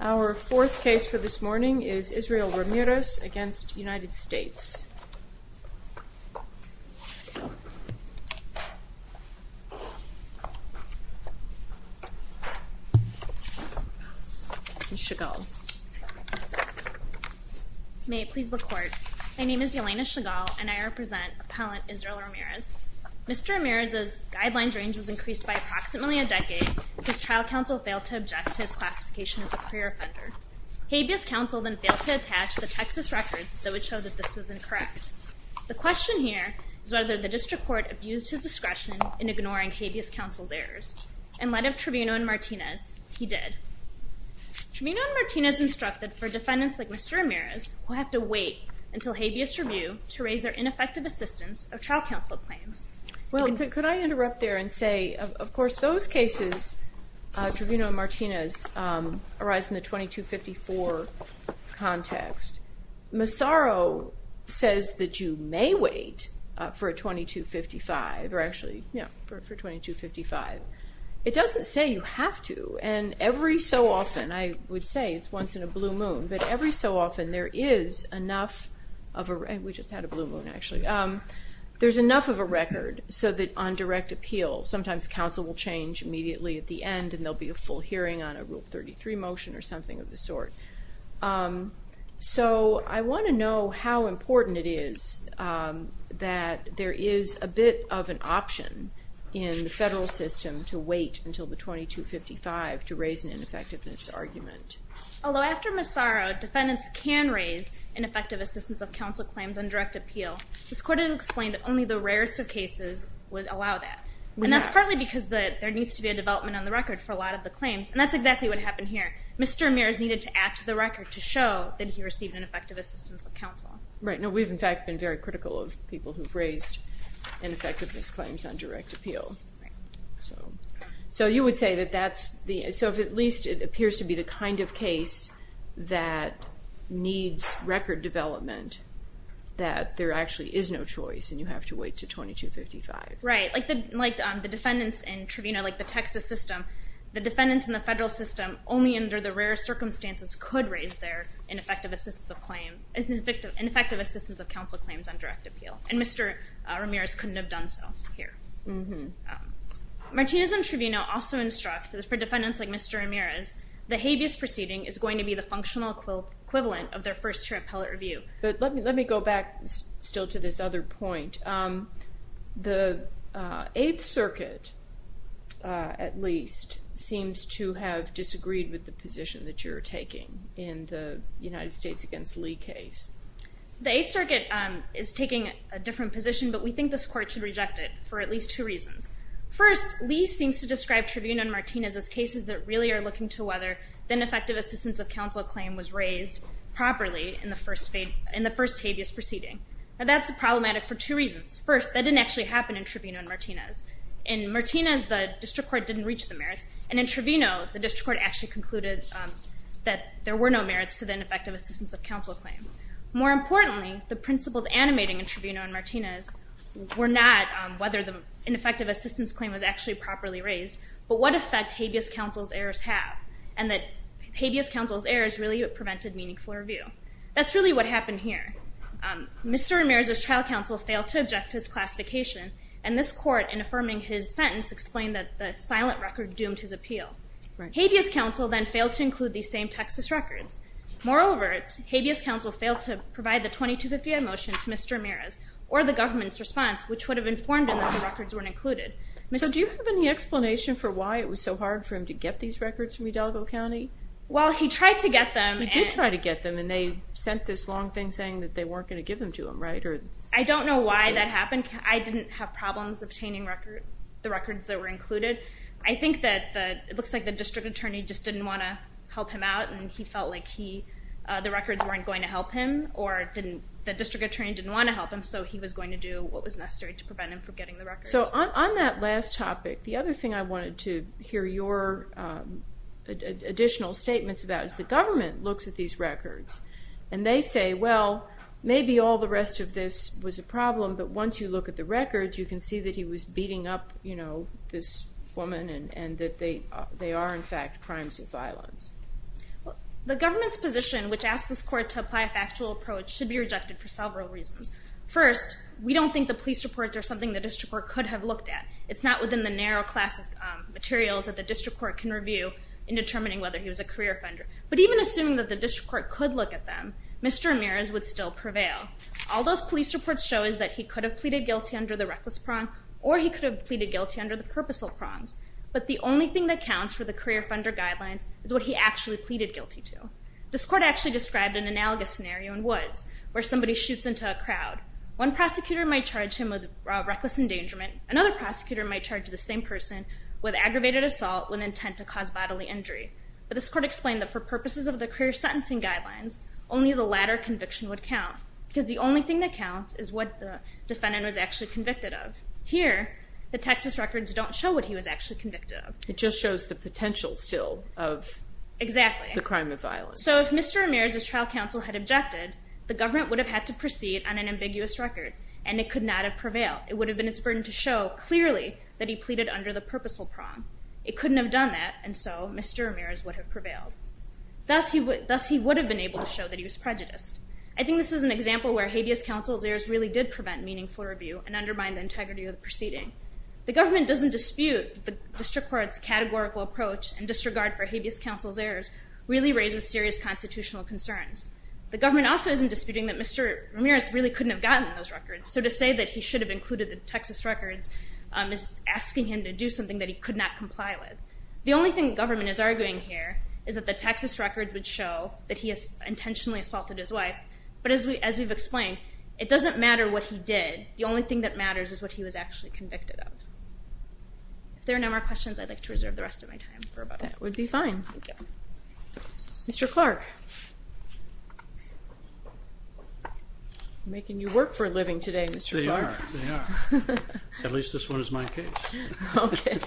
Our fourth case for this morning is Israel Ramirez v. United States and Chagall. May it please the Court, my name is Yelena Chagall, and I represent Appellant Israel Ramirez. Mr. Ramirez's guidelines range was increased by approximately a decade because trial counsel failed to object to his classification as a pre-offender. Habeas counsel then failed to attach the Texas records that would show that this was incorrect. The question here is whether the district court abused his discretion in ignoring Habeas counsel's errors. In light of Tribuno and Martinez, he did. Tribuno and Martinez instructed for defendants like Mr. Ramirez who have to wait until Habeas review to raise their ineffective assistance of trial counsel claims. Well, could I interrupt there and say, of course, those cases, Tribuno and Martinez, arise in the 2254 context. Massaro says that you may wait for a 2255, or actually, yeah, for 2255. It doesn't say you have to, and every so often, I would say it's once in a blue moon, but every so often there is enough of a, and we just had a blue moon actually, there's enough of a record so that on direct appeal, sometimes counsel will change immediately at the end and there'll be a full hearing on a Rule 33 motion or something of the sort. So, I want to know how important it is that there is a bit of an option in the federal system to wait until the 2255 to raise an ineffectiveness argument. Although after Massaro, defendants can raise ineffective assistance of counsel claims on direct appeal. This court had explained that only the rarest of cases would allow that, and that's partly because there needs to be a development on the record for a lot of the claims, and that's exactly what happened here. Mr. Amir's needed to add to the record to show that he received ineffective assistance of counsel. Right. Now, we've in fact been very critical of people who've raised ineffectiveness claims on direct appeal, so you would say that that's the, so if at least it appears to be the kind of case that needs record development, that there actually is no choice and you have to wait to 2255. Right. Like the defendants in Trivena, like the Texas system, the defendants in the federal system only under the rarest circumstances could raise their ineffective assistance of claim, ineffective assistance of counsel claims on direct appeal, and Mr. Amir's couldn't have done so here. Martinez in Trivena also instructs that for defendants like Mr. Amir's, the habeas proceeding is going to be the functional equivalent of their first-year appellate review. But let me go back still to this other point. The Eighth Circuit, at least, seems to have disagreed with the position that you're taking in the United States against Lee case. The Eighth Circuit is taking a different position, but we think this court should reject it for at least two reasons. First, Lee seems to describe Trivena and Martinez as cases that really are looking to whether the ineffective assistance of counsel claim was raised properly in the first habeas proceeding. Now, that's problematic for two reasons. First, that didn't actually happen in Trivena and Martinez. In Martinez, the district court didn't reach the merits, and in Trivena, the district court actually concluded that there were no merits to the ineffective assistance of counsel claim. More importantly, the principles animating in Trivena and Martinez were not whether the ineffective assistance claim was actually properly raised, but what effect habeas counsel's errors have, and that habeas counsel's errors really prevented meaningful review. That's really what happened here. Mr. Ramirez's trial counsel failed to object to his classification, and this court, in affirming his sentence, explained that the silent record doomed his appeal. Habeas counsel then failed to include these same Texas records. Moreover, habeas counsel failed to provide the 2258 motion to Mr. Ramirez or the government's response, which would have informed him that the records weren't included. So, do you have any explanation for why it was so hard for him to get these records from Udallago County? Well, he tried to get them. He did try to get them, and they sent this long thing saying that they weren't going to give them to him, right? I don't know why that happened. I didn't have problems obtaining the records that were included. I think that it looks like the district attorney just didn't want to help him out, and he felt like the records weren't going to help him, or the district attorney didn't want to help him, so he was going to do what was necessary to prevent him from getting the records. So, on that last topic, the other thing I wanted to hear your additional statements about is the government looks at these records, and they say, well, maybe all the rest of this was a problem, but once you look at the records, you can see that he was beating up, you know, this woman, and that they are, in fact, crimes of violence. The government's position, which asks this court to apply a factual approach, should be rejected for several reasons. First, we don't think the police reports are something the district court could have looked at. It's not within the narrow class of materials that the district court can review in determining whether he was a career offender, but even assuming that the district court could look at them, Mr. Ramirez would still prevail. All those police reports show is that he could have pleaded guilty under the reckless prong, or he could have pleaded guilty under the purposeful prongs, but the only thing that counts for the career offender guidelines is what he actually pleaded guilty to. This court actually described an analogous scenario in Woods, where somebody shoots into a crowd. One prosecutor might charge him with reckless endangerment. Another prosecutor might charge the same person with aggravated assault with intent to cause bodily injury. But this court explained that for purposes of the career sentencing guidelines, only the latter conviction would count, because the only thing that counts is what the defendant was actually convicted of. Here, the Texas records don't show what he was actually convicted of. It just shows the potential, still, of the crime of violence. So if Mr. Ramirez's trial counsel had objected, the government would have had to proceed on an ambiguous record, and it could not have prevailed. It would have been its burden to show, clearly, that he pleaded under the purposeful prong. It couldn't have done that, and so Mr. Ramirez would have prevailed. Thus, he would have been able to show that he was prejudiced. I think this is an example where habeas counsel's errors really did prevent meaningful review and undermine the integrity of the proceeding. The government doesn't dispute that the district court's categorical approach and disregard for habeas counsel's errors really raises serious constitutional concerns. The government also isn't disputing that Mr. Ramirez really couldn't have gotten those records. So to say that he should have included the Texas records is asking him to do something that he could not comply with. The only thing the government is arguing here is that the Texas records would show that he has intentionally assaulted his wife, but as we've explained, it doesn't matter what he did. The only thing that matters is what he was actually convicted of. If there are no more questions, I'd like to reserve the rest of my time for about a minute. That would be fine. Thank you. Mr. Clark. I'm making you work for a living today, Mr. Clark. They are. They are. At least this one is my case. Okay.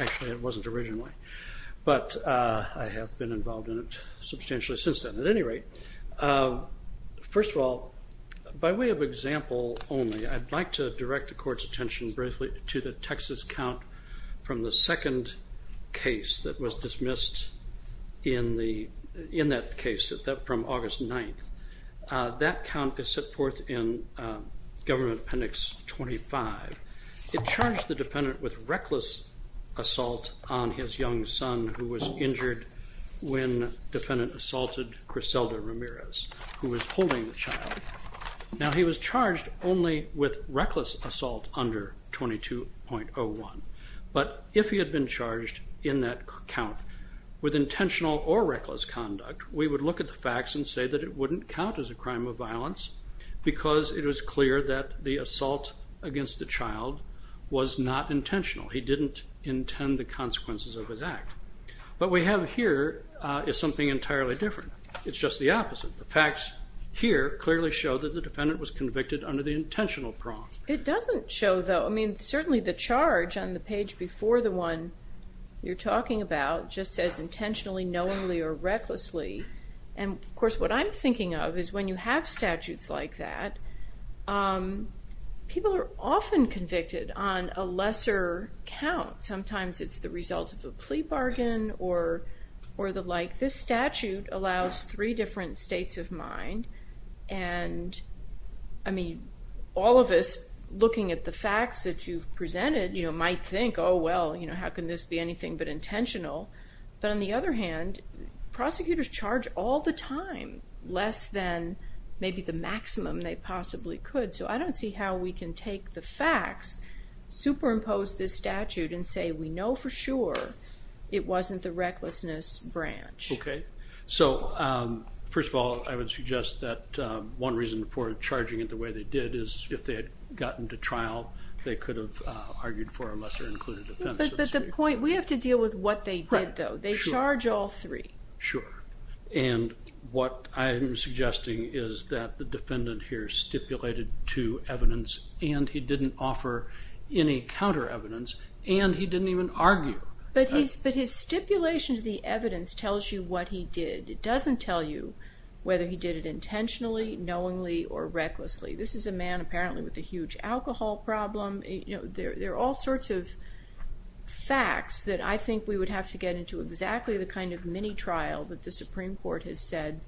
Actually, it wasn't originally, but I have been involved in it substantially since then. At any rate, first of all, by way of example only, I'd like to direct the court's attention briefly to the Texas count from the second case that was dismissed in that case from August 9th. That count is set forth in Government Appendix 25. It charged the defendant with reckless assault on his young son who was injured when defendant assaulted Griselda Ramirez, who was holding the child. Now, he was charged only with reckless assault under 22.01, but if he had been charged in that count with intentional or reckless conduct, we would look at the facts and say that it not intentional. He didn't intend the consequences of his act. What we have here is something entirely different. It's just the opposite. The facts here clearly show that the defendant was convicted under the intentional prong. It doesn't show, though. I mean, certainly the charge on the page before the one you're talking about just says intentionally, knowingly, or recklessly, and of course, what I'm thinking of is when you have statutes like that, people are often convicted on a lesser count. Sometimes it's the result of a plea bargain or the like. This statute allows three different states of mind, and I mean, all of us, looking at the facts that you've presented, you know, might think, oh, well, you know, how can this be anything but intentional, but on the other hand, prosecutors charge all the time less than maybe the maximum they possibly could, so I don't see how we can take the facts, superimpose this statute, and say we know for sure it wasn't the recklessness branch. Okay. So, first of all, I would suggest that one reason for charging it the way they did is if they had gotten to trial, they could have argued for a lesser included offense. But the point, we have to deal with what they did, though. They charge all three. Sure. And what I'm suggesting is that the defendant here stipulated to evidence, and he didn't offer any counter-evidence, and he didn't even argue. But his stipulation to the evidence tells you what he did. It doesn't tell you whether he did it intentionally, knowingly, or recklessly. This is a man, apparently, with a huge alcohol problem. There are all sorts of facts that I think we would have to get into exactly the kind of mini-trial that the Supreme Court has said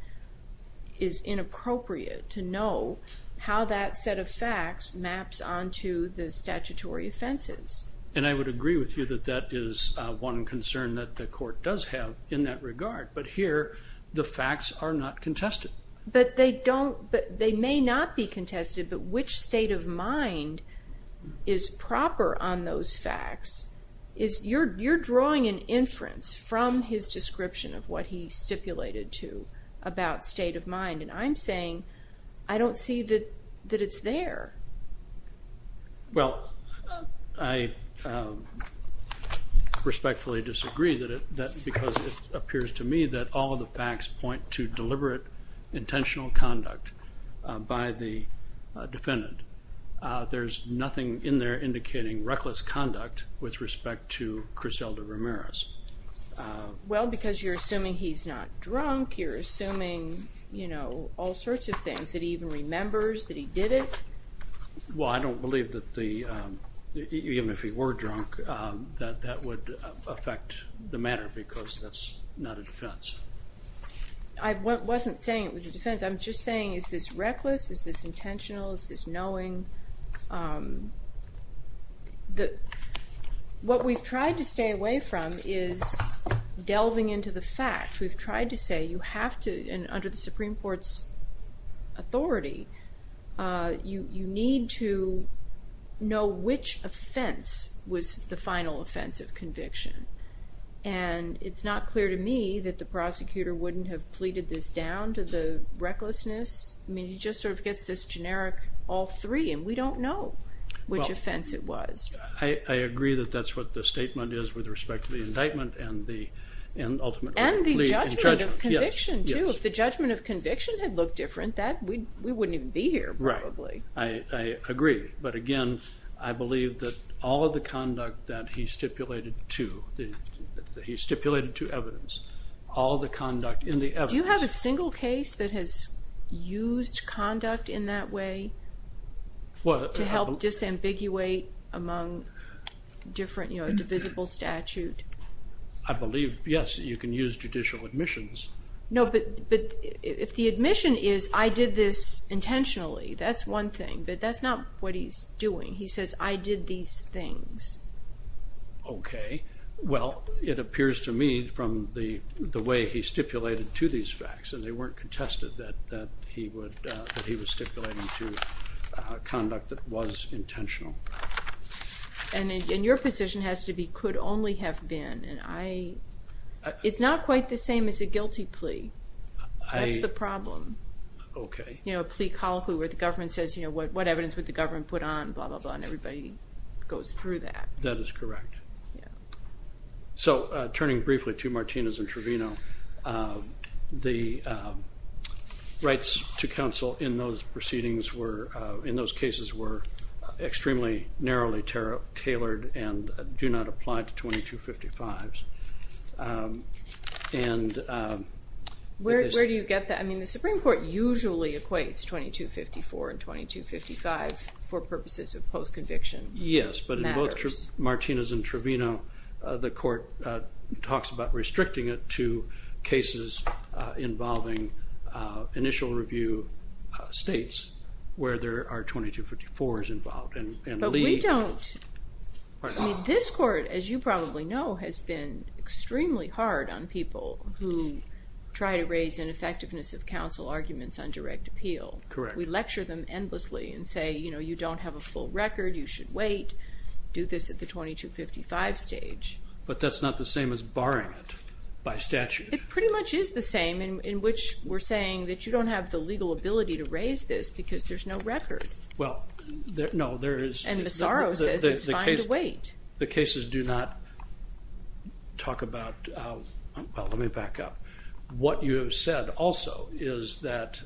is inappropriate to know how that set of facts maps onto the statutory offenses. And I would agree with you that that is one concern that the court does have in that regard. But here, the facts are not contested. But they don't, they may not be contested, but which state of mind is proper on those inference from his description of what he stipulated to about state of mind? And I'm saying, I don't see that it's there. Well, I respectfully disagree because it appears to me that all the facts point to deliberate intentional conduct by the defendant. There's nothing in there indicating reckless conduct with respect to Criselda Ramirez. Well, because you're assuming he's not drunk, you're assuming, you know, all sorts of things, that he even remembers that he did it. Well, I don't believe that the, even if he were drunk, that that would affect the matter because that's not a defense. I wasn't saying it was a defense. I'm just saying, is this reckless? Is this intentional? Is this knowing? What we've tried to stay away from is delving into the facts. We've tried to say, you have to, and under the Supreme Court's authority, you need to know which offense was the final offense of conviction. And it's not clear to me that the prosecutor wouldn't have pleaded this down to the recklessness. I mean, he just sort of gets this generic all three, and we don't know which offense it was. I agree that that's what the statement is with respect to the indictment and the ultimate lead. And the judgment of conviction, too. If the judgment of conviction had looked different, we wouldn't even be here, probably. Right. I agree. But again, I believe that all of the conduct that he stipulated to, that he stipulated to evidence, all the conduct in the evidence Do you have a single case that has used conduct in that way to help disambiguate among different, you know, divisible statute? I believe, yes, you can use judicial admissions. No, but if the admission is, I did this intentionally, that's one thing. But that's not what he's doing. He says, I did these things. Okay. Well, it appears to me, from the way he stipulated to these facts, and they weren't contested, that he was stipulating to conduct that was intentional. And your position has to be, could only have been. It's not quite the same as a guilty plea. That's the problem. You know, a plea colloquy where the government says, you know, what evidence would the government put on, blah, blah, blah, and everybody goes through that. That is correct. So, turning briefly to Martinez and Trevino, the rights to counsel in those proceedings were, in those cases were extremely narrowly tailored and do not apply to 2255s. Where do you get that? I mean, the Supreme Court usually equates 2254 and 2255 for purposes of post-conviction matters. Yes, but in both Martinez and Trevino, the court talks about restricting it to cases involving initial review states where there are 2254s involved. But we don't. I mean, this court, as you probably know, has been extremely hard on people who try to raise ineffectiveness of counsel arguments on direct appeal. Correct. We lecture them endlessly and say, you know, you don't have a full record. You should wait. Do this at the 2255 stage. But that's not the same as barring it by statute. It pretty much is the same, in which we're saying that you don't have the legal ability to raise this because there's no record. Well, no, there is. And Massaro says it's fine to wait. The cases do not talk about – well, let me back up. What you have said also is that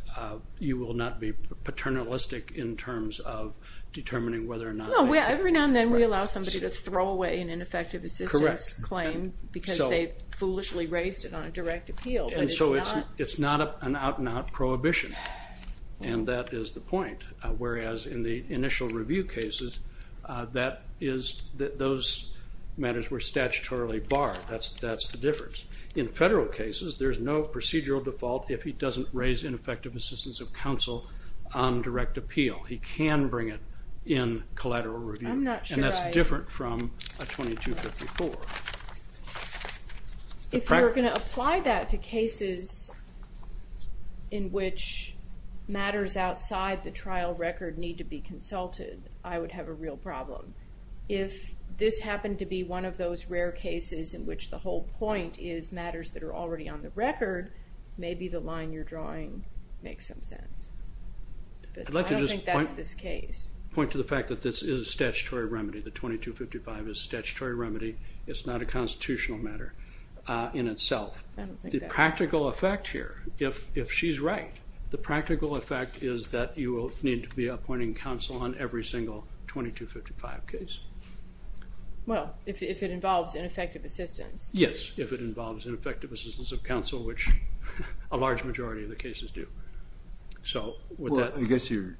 you will not be paternalistic in terms of determining whether or not. No, every now and then we allow somebody to throw away an ineffective assistance claim because they foolishly raised it on a direct appeal. And so it's not an out-and-out prohibition, and that is the point. Whereas in the initial review cases, those matters were statutorily barred. That's the difference. In federal cases, there's no procedural default if he doesn't raise ineffective assistance of counsel on direct appeal. He can bring it in collateral review. And that's different from a 2254. If you're going to apply that to cases in which matters outside the trial record need to be consulted, I would have a real problem. If this happened to be one of those rare cases in which the whole point is matters that are already on the record, maybe the line you're drawing makes some sense. I don't think that's this case. I'd like to just point to the fact that this is a statutory remedy. The 2255 is a statutory remedy. It's not a constitutional matter in itself. The practical effect here, if she's right, the practical effect is that you will need to be appointing counsel on every single 2255 case. Well, if it involves ineffective assistance. Yes, if it involves ineffective assistance of counsel, which a large majority of the cases do. I guess you're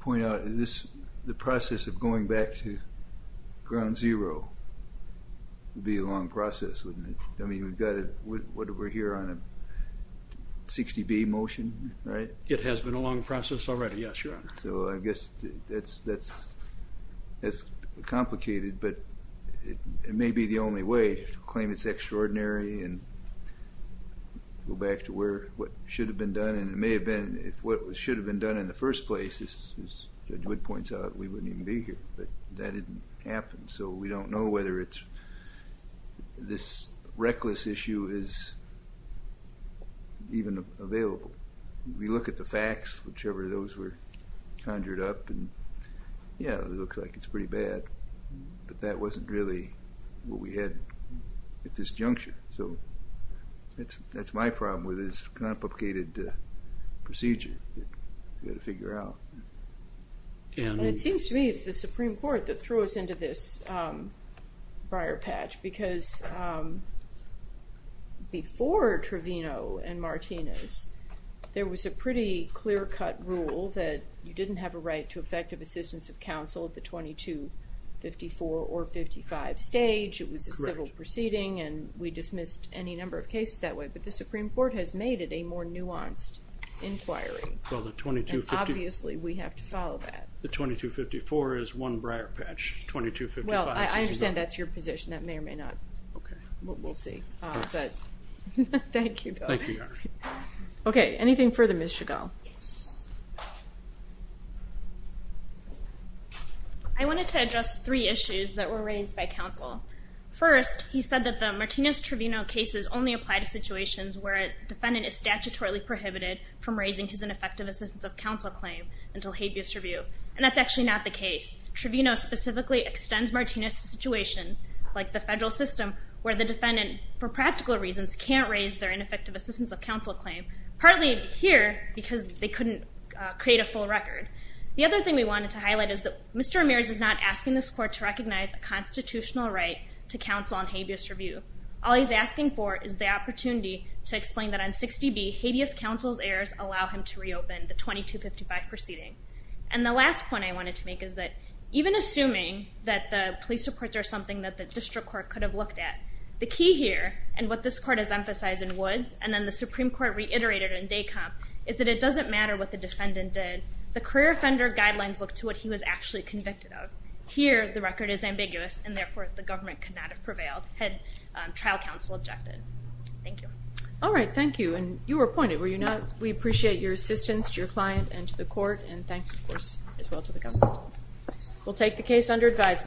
pointing out the process of going back to ground zero would be a long process, wouldn't it? I mean, we're here on a 60B motion, right? It has been a long process already, yes, Your Honor. So I guess that's complicated, but it may be the only way to claim it's extraordinary and go back to what should have been done. And it may have been if what should have been done in the first place, as Judge Wood points out, we wouldn't even be here. But that didn't happen, so we don't know whether it's this reckless issue is even available. We look at the facts, whichever those were conjured up, and, yeah, it looks like it's pretty bad. But that wasn't really what we had at this juncture. So that's my problem with this complicated procedure that we've got to figure out. It seems to me it's the Supreme Court that threw us into this briar patch because before Trevino and Martinez, there was a pretty clear-cut rule that you didn't have a right to effective assistance of counsel at the 2254 or 55 stage. It was a civil proceeding, and we dismissed any number of cases that way. But the Supreme Court has made it a more nuanced inquiry, and obviously we have to follow that. The 2254 is one briar patch. Well, I understand that's your position. That may or may not. We'll see. Thank you, Bill. Thank you, Your Honor. Okay, anything further, Ms. Chagall? Yes. I wanted to address three issues that were raised by counsel. First, he said that the Martinez-Trevino cases only apply to situations where a defendant is statutorily prohibited from raising his ineffective assistance of counsel claim until habeas tribune, and that's actually not the case. Trevino specifically extends Martinez to situations like the federal system where the defendant, for practical reasons, can't raise their ineffective assistance of counsel claim, partly here because they couldn't create a full record. The other thing we wanted to highlight is that Mr. Ramirez is not asking this court to recognize a constitutional right to counsel on habeas tribune. All he's asking for is the opportunity to explain that on 60B, habeas counsel's errors allow him to reopen the 2255 proceeding. And the last point I wanted to make is that even assuming that the police reports are something that the district court could have looked at, the key here and what this court has emphasized in Woods and then the Supreme Court reiterated in Decomp, is that it doesn't matter what the defendant did. The career offender guidelines look to what he was actually convicted of. Here, the record is ambiguous, and therefore, the government could not have prevailed had trial counsel objected. Thank you. All right, thank you. And you were appointed, were you not? We appreciate your assistance to your client and to the court, and thanks, of course, as well to the government. We'll take the case under advisement.